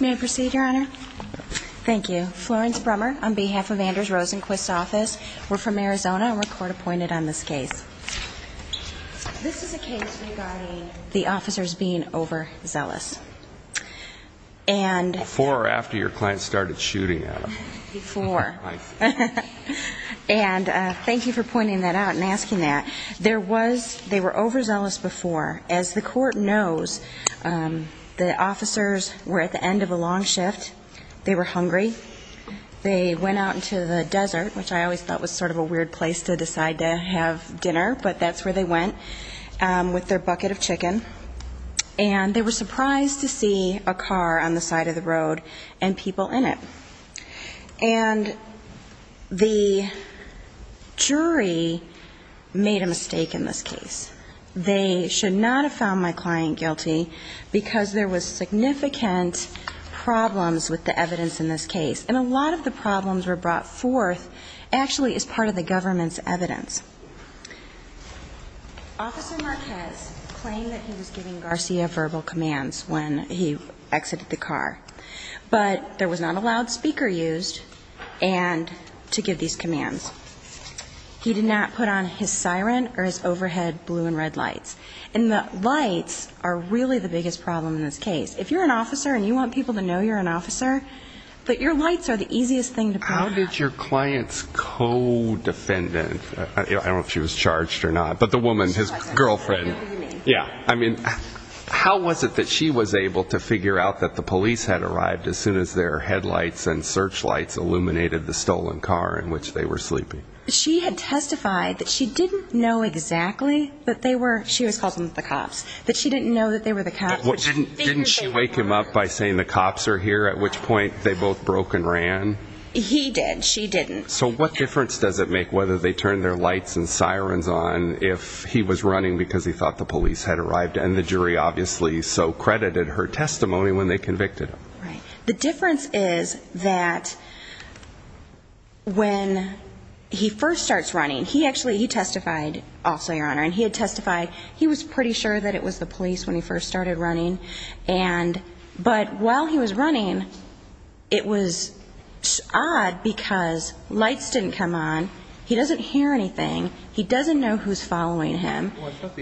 May I proceed your honor? Thank you. Florence Brummer on behalf of Anders Rosenquist's office. We're from Arizona and we're court-appointed on this case. This is a case regarding the officers being overzealous. Before or after your client started shooting at them? Before. And thank you for pointing that out and asking that. There was, they were overzealous before. As the court knows, the officers were at the end of a long shift. They were hungry. They went out into the desert, which I always thought was sort of a weird place to decide to have dinner, but that's where they went, with their bucket of chicken. And they were surprised to see a car on the side of the road and people in it. And the jury made a mistake in this case. I would not have found my client guilty because there was significant problems with the evidence in this case. And a lot of the problems were brought forth actually as part of the government's evidence. Officer Marquez claimed that he was giving Garcia verbal commands when he exited the car. But there was not a loudspeaker used to give these commands. He did not put on his siren or his overhead blue and red lights. And the lights are really the biggest problem in this case. If you're an officer and you want people to know you're an officer, but your lights are the easiest thing to put on. How did your client's co-defendant, I don't know if she was charged or not, but the woman, his girlfriend, yeah, I mean, how was it that she was able to figure out that the police had arrived as soon as their headlights and searchlights illuminated the stolen car in which they were sleeping? She had testified that she didn't know exactly that they were, she was calling them the cops, that she didn't know that they were the cops. Didn't she wake him up by saying the cops are here? At which point they both broke and ran? He did. She didn't. So what difference does it make whether they turn their lights and sirens on if he was running because he thought the police had arrived and the jury obviously so credited her testimony when they convicted him? Right. The difference is that when he first starts running, he actually, he testified also, Your Honor, and he had testified, he was pretty sure that it was the police when he first started running. And, but while he was running, it was odd because lights didn't come on. He doesn't hear anything. He doesn't know who's following him.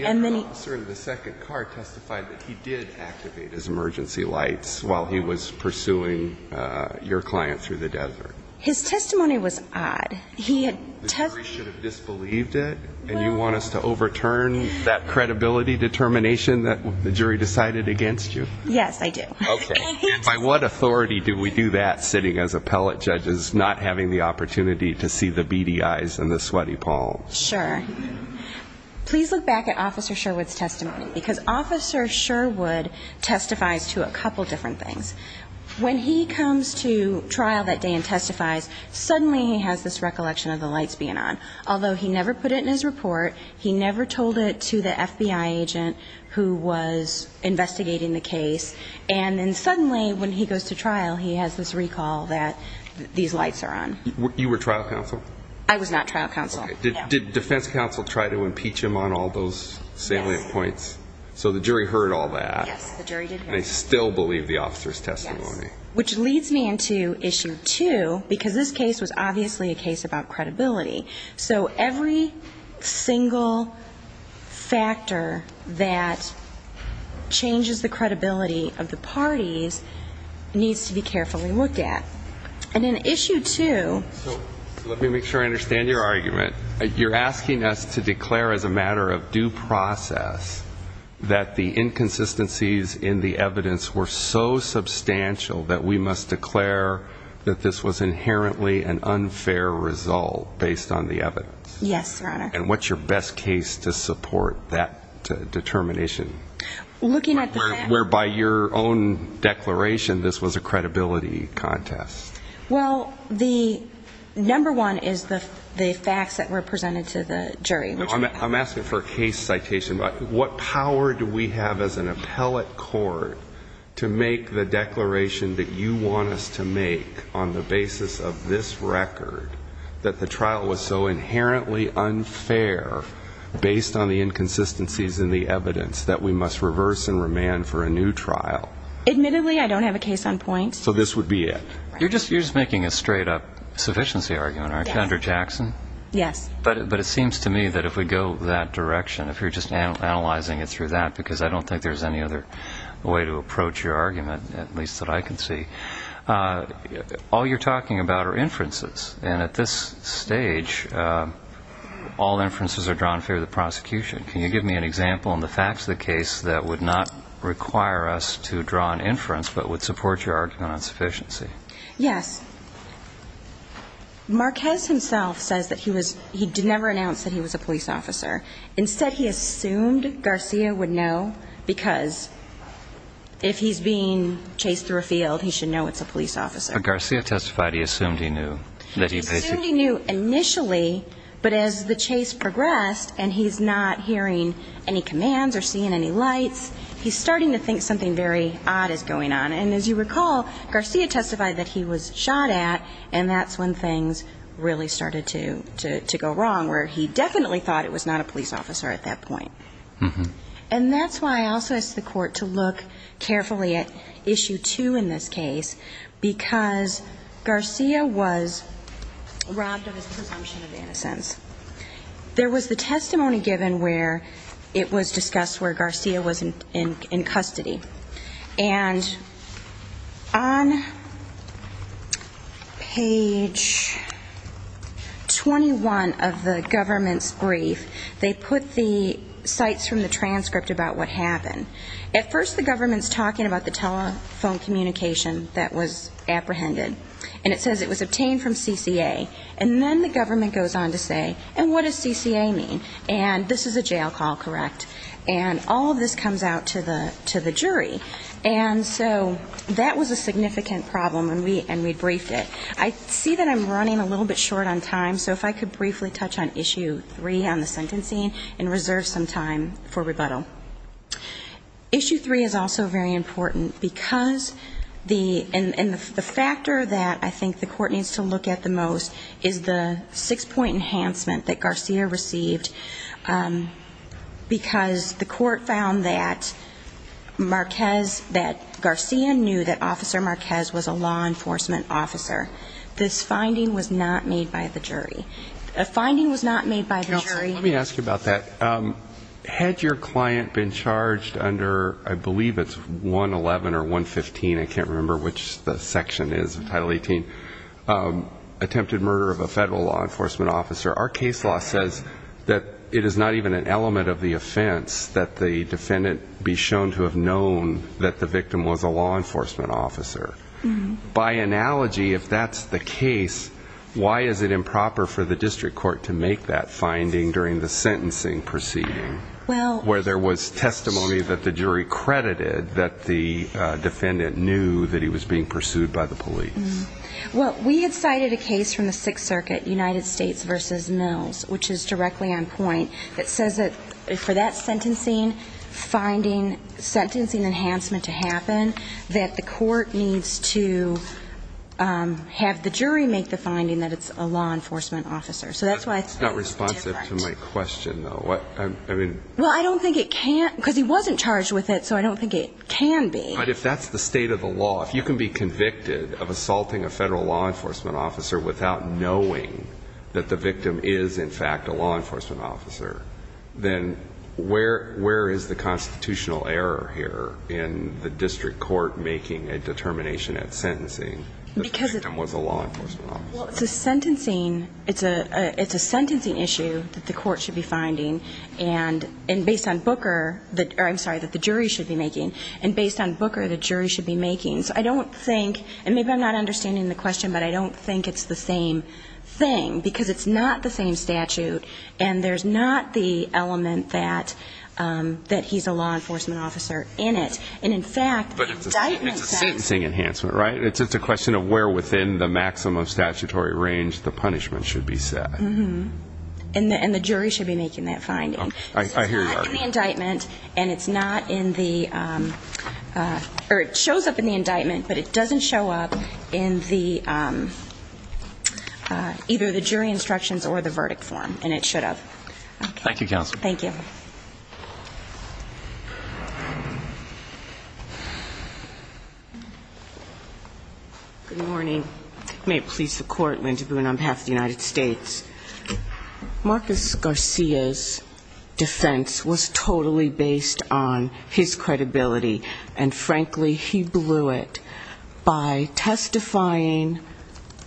And then he, the second car testified that he did activate his emergency lights while he was pursuing your client through the desert. His testimony was odd. He had, the jury should have disbelieved it and you want us to overturn that credibility determination that the jury decided against you? Yes, I do. Okay. And by what authority do we do that sitting as appellate judges not having the opportunity to see the beady eyes and the sweaty palms? Sure. Please look back at Officer Sherwood's testimony because Officer Sherwood testifies to a couple different things. When he comes to trial that day and testifies, suddenly he has this recollection of the lights being on. Although he never put it in his report, he never told it to the FBI agent who was investigating the case. And then suddenly when he goes to trial, he has this recall that these lights are on. You were trial counsel? I was not trial counsel. Okay. Did defense counsel try to impeach him on all those salient points? Yes. So the jury heard all that? Yes, the jury did hear it. They still believe the officer's testimony? Yes. Which leads me into issue two because this case was obviously a case about credibility. So every single factor that changes the credibility of the parties needs to be carefully looked at. And in issue two, you asked us to declare as a matter of due process that the inconsistencies in the evidence were so substantial that we must declare that this was inherently an unfair result based on the evidence. Yes, Your Honor. And what's your best case to support that determination? Looking at the facts. Where by your own declaration this was a credibility contest? Well, the number one is the facts that were presented to the jury. I'm asking for a case citation. What power do we have as an appellate court to make the declaration that you want us to make on the basis of this record that the trial was so inherently unfair based on the inconsistencies in the evidence that we must reverse and remand for a new trial to be at? You're just making a straight-up sufficiency argument, aren't you? Under Jackson? Yes. But it seems to me that if we go that direction, if you're just analyzing it through that, because I don't think there's any other way to approach your argument, at least that I can see, all you're talking about are inferences. And at this stage, all inferences are drawn through the prosecution. Can you give me an example in the facts of the case that would not require us to draw an inference but would support your argument on sufficiency? Yes. Marquez himself says that he was he never announced that he was a police officer. Instead he assumed Garcia would know because if he's being chased through a field, he should know it's a police officer. But Garcia testified he assumed he knew. He assumed he knew initially, but as the chase progressed and he's not hearing any commands or seeing any lights, he's starting to think something very odd is going on. And as you recall, Garcia testified that he was shot at, and that's when things really started to go wrong, where he definitely thought it was not a police officer at that point. And that's why I also asked the court to look carefully at issue two in this case, because Garcia was robbed of his presumption of innocence There was the testimony given where it was discussed where Garcia was in custody. And on page 21 of the government's brief, they put the sites from the transcript about what happened. At first the government's talking about the telephone communication that was apprehended. And it says it was obtained from Garcia, and then it goes on to say, and what does CCA mean? And this is a jail call, correct? And all of this comes out to the jury. And so that was a significant problem, and we briefed it. I see that I'm running a little bit short on time, so if I could briefly touch on issue three on the sentencing and reserve some time for rebuttal. Issue three is also very important, because the factor that I think the court needs to look at the most is the enforcement enhancement that Garcia received, because the court found that Marquez, that Garcia knew that Officer Marquez was a law enforcement officer. This finding was not made by the jury. The finding was not made by the jury. Let me ask you about that. Had your client been charged under, I believe it's 111 or 115, I can't remember which the section is, Title 18, attempted murder of a federal law enforcement officer, our case law says that it is not even an element of the offense that the defendant be shown to have known that the victim was a law enforcement officer. By analogy, if that's the case, why is it improper for the district court to make that finding during the sentencing proceeding, where there was testimony that the jury credited that the defendant knew that he was being pursued by the police? Well, we had cited a case from the Sixth Circuit, United States v. Mills, which is directly on point, that says that for that sentencing finding, sentencing enhancement to happen, that the court needs to have the jury make the finding that it's a law enforcement officer. That's not responsive to my question, though. Well, I don't think it can't, because he wasn't charged with it, so I don't think it can be. But if that's the state of the law, if you can be convicted of assaulting a federal law enforcement officer without knowing that the victim is, in fact, a law enforcement officer, then where is the constitutional error here in the district court making a determination at sentencing that the victim was a law enforcement officer? Well, it's a sentencing issue that the court should be finding, and based on Booker, I'm sorry, that the jury should be making. And based on Booker, the jury should be making. So I don't think, and maybe I'm not understanding the question, but I don't think it's the same thing, because it's not the same statute, and there's not the element that he's a law enforcement officer in it. But it's a sentencing enhancement, right? It's a question of where within the maximum statutory range the punishment should be set. And the jury should be making that finding. It's not in the indictment, and it's not in the, or it shows up in the indictment, but it doesn't show up in either the jury instructions or the verdict form, and it should have. Thank you, Counsel. Good morning. May it please the Court, Linda Boone on behalf of the United States. Marcus Garcia's defense was totally based on his credibility, and frankly, he blew it by testifying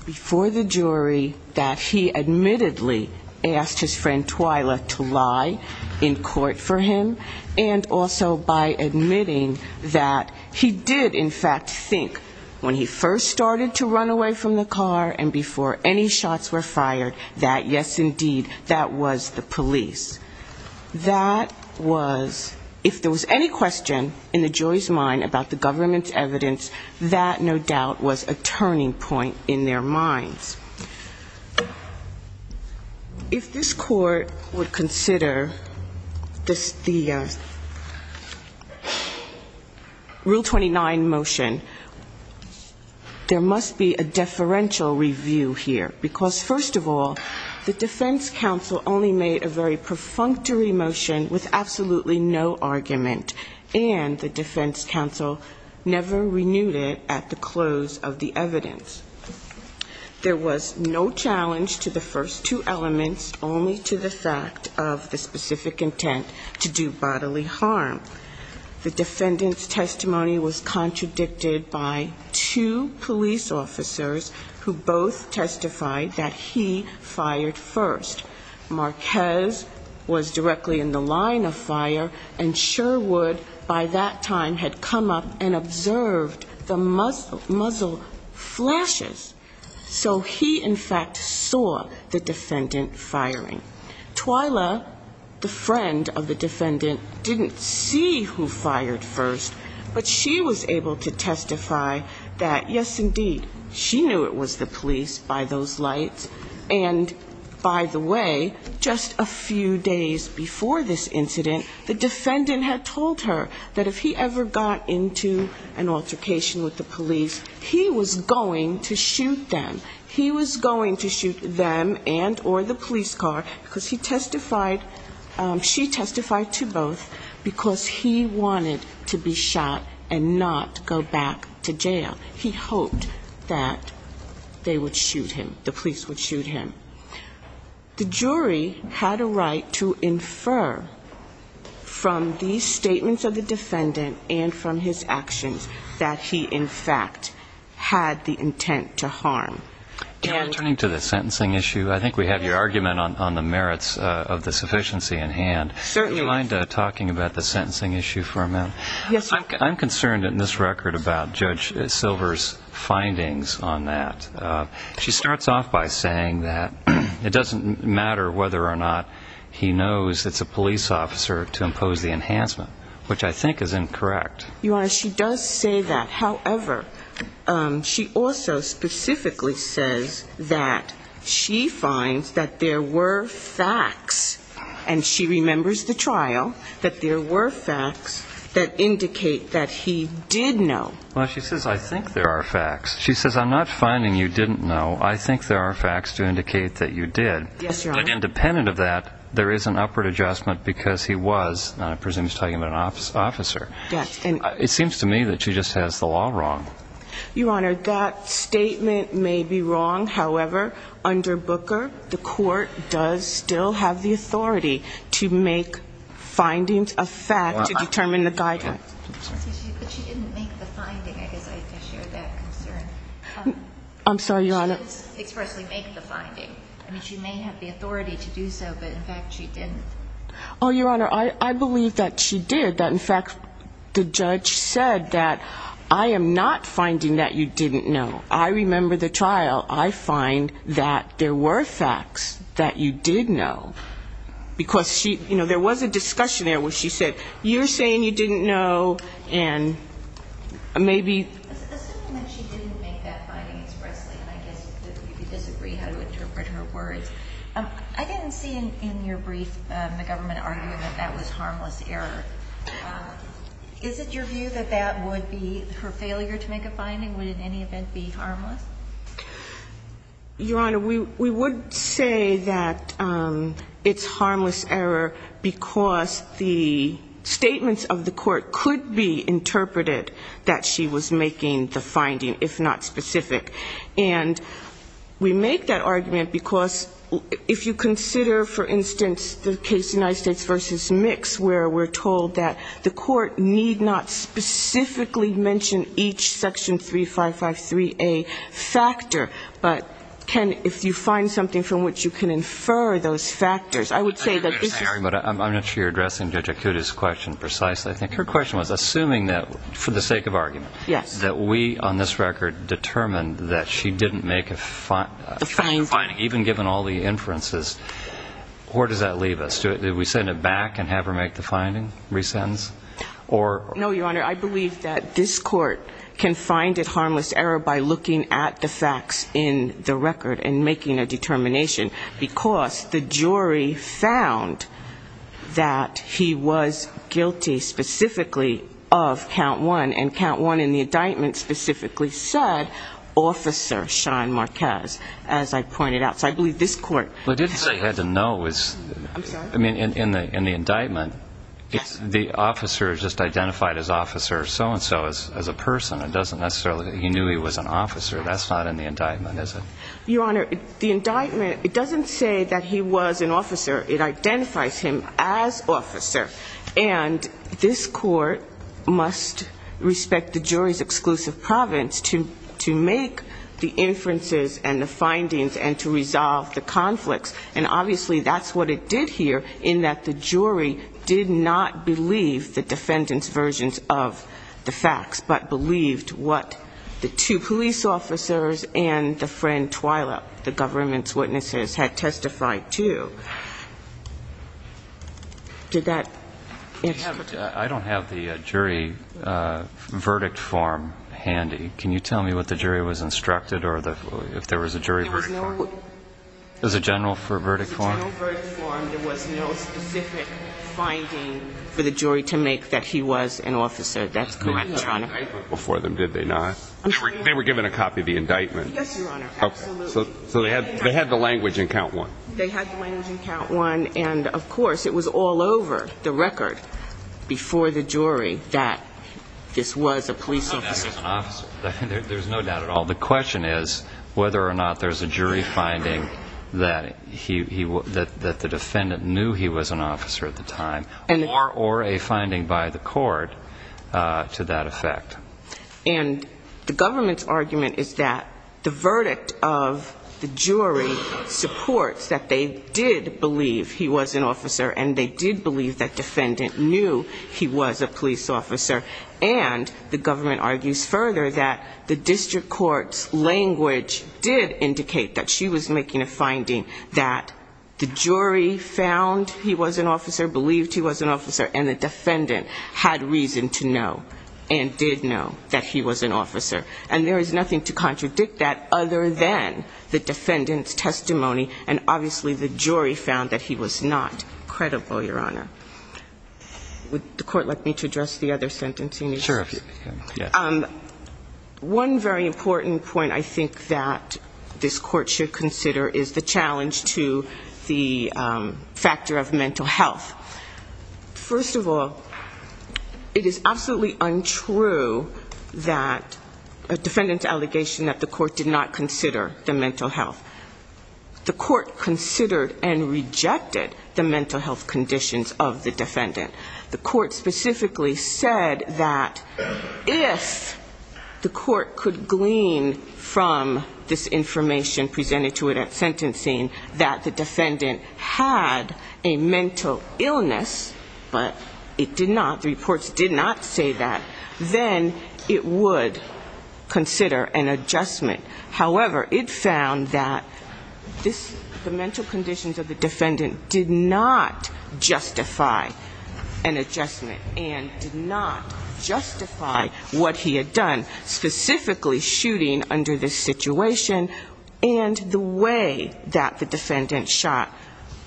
before the jury that he admittedly asked his friend Twyla to lie in court for him, and also by admitting that he had lied to his friend Twyla. He did, in fact, think, when he first started to run away from the car and before any shots were fired, that, yes, indeed, that was the police. That was, if there was any question in the jury's mind about the government's evidence, that, no doubt, was a turning point in their minds. If this Court would consider this, the Rule 20 of the Constitution, I think it would be helpful to consider the Rule 29 motion. There must be a deferential review here, because, first of all, the defense counsel only made a very perfunctory motion with absolutely no argument, and the defense counsel never renewed it at the close of the evidence. There was no challenge to the first two elements, only to the fact of the specific intent to do bodily harm. The defendant's testimony was contradicted by two police officers who both testified that he fired first. Marquez was directly in the line of fire, and Sherwood, by that time, had come up and observed the muzzle flashes. So he, in fact, saw the defendant firing. Twyla, the friend of the defendant, didn't see the muzzle flashes. She was the one who fired first, but she was able to testify that, yes, indeed, she knew it was the police by those lights. And, by the way, just a few days before this incident, the defendant had told her that if he ever got into an altercation with the police, he was going to shoot them. He was going to shoot them and or the police car, because he testified, she testified to both, because he wanted to be shot and not go back to jail. He hoped that they would shoot him, the police would shoot him. The jury had a right to infer from these statements of the defendant and from his actions that he, in fact, had the intent to harm. And we're turning to the sentencing issue. I think we have your argument on the merits of the sufficiency in hand. Certainly. I'm concerned in this record about Judge Silver's findings on that. She starts off by saying that it doesn't matter whether or not he knows it's a police officer to impose the enhancement, which I think is incorrect. Your Honor, she does say that. However, she also specifically says that she finds that there were facts, and she remembers them. She remembers the trial, that there were facts that indicate that he did know. Well, she says, I think there are facts. She says, I'm not finding you didn't know. I think there are facts to indicate that you did. Yes, Your Honor. But independent of that, there is an upward adjustment because he was, I presume, talking about an officer. Yes. It seems to me that she just has the law wrong. Your Honor, that statement may be wrong. However, under Booker, the court does still have the authority to make findings of facts to determine the guidance. But she didn't make the finding. I guess I share that concern. I'm sorry, Your Honor. She didn't expressly make the finding. I mean, she may have the authority to do so, but, in fact, she didn't. Oh, Your Honor, I believe that she did, that, in fact, the judge said that, I am not finding that you didn't know. I remember the trial. I find that there were facts that you did know. Because she, you know, there was a discussion there where she said, you're saying you didn't know, and maybe... Assuming that she didn't make that finding expressly, and I guess that you disagree how to interpret her words, I didn't see in your brief the government arguing that that was harmless error. Is it your view that that would be her failure to make a finding? Would it in any event be harmless? Your Honor, we would say that it's harmless error because the statements of the court could be interpreted that she was making. The finding, if not specific, and we make that argument because if you consider, for instance, the case of United States v. Mix, where we're told that the court need not specifically mention each Section 3553A factor, but can, if you find something from which you can infer those factors, I would say that this is... I'm not sure you're addressing Judge Akuta's question precisely. I think her question was, assuming that, for the sake of argument... If we, on this record, determined that she didn't make a finding, even given all the inferences, where does that leave us? Did we send it back and have her make the finding, re-sentence? No, Your Honor, I believe that this Court can find it harmless error by looking at the facts in the record and making a determination, because the jury found that he was guilty specifically of count one, and count one in the indictments that he was guilty of. And the indictment specifically said, Officer Sean Marquez, as I pointed out. So I believe this Court... Well, I didn't say he had to know. I mean, in the indictment, the officer just identified as officer so-and-so as a person. It doesn't necessarily... He knew he was an officer. That's not in the indictment, is it? Your Honor, the indictment, it doesn't say that he was an officer. It identifies him as officer. And this Court must respect the jury's exclusive privilege. And I believe that the jury did not believe the defendant's versions of the facts, but believed what the two police officers and the friend Twyla, the government's witnesses, had testified to. I don't have the jury verdict form handy. Can you tell me what the jury was instructed, or if there was a jury verdict form? There was no... There was a general verdict form? There was a general verdict form. There was no specific finding for the jury to make that he was an officer. That's correct, Your Honor. Before them, did they not? They were given a copy of the indictment? I can count one. And, of course, it was all over the record before the jury that this was a police officer. There's no doubt at all. The question is whether or not there's a jury finding that the defendant knew he was an officer at the time, or a finding by the court to that effect. And the government's argument is that the verdict of the jury supports that they did not know that he was an officer. They did believe he was an officer, and they did believe that defendant knew he was a police officer. And the government argues further that the district court's language did indicate that she was making a finding that the jury found he was an officer, believed he was an officer, and the defendant had reason to know and did know that he was an officer. And there is nothing to contradict that other than the defendant's testimony, and obviously the jury found that he was an officer. The jury found that he was not credible, Your Honor. Would the court like me to address the other sentencing issues? One very important point I think that this court should consider is the challenge to the factor of mental health. First of all, it is absolutely untrue that a defendant's allegation that the court did not consider the mental health. The court considered and rejected the mental health conditions of the defendant. The court specifically said that if the court could glean from this information presented to it at sentencing that the defendant had a mental illness, but it did not, the reports did not say that, then it would consider an adjustment. However, it found that this, the mental conditions of the defendant did not justify an adjustment and did not justify what he had done, specifically shooting under this situation and the way that the defendant shot,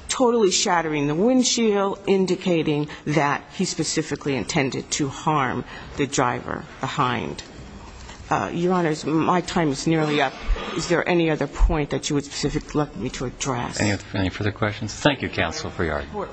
totally shattering the windshield, indicating that he specifically intended to harm the driver behind. Your Honors, my time is nearly up. Is there any other point that you would specifically like me to address? Any further questions? Thank you, counsel, for your argument.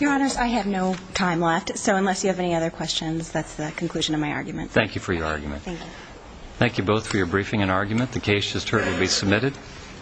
Your Honors, I have no time left, so unless you have any other questions, that's the conclusion of my argument. Thank you for your argument.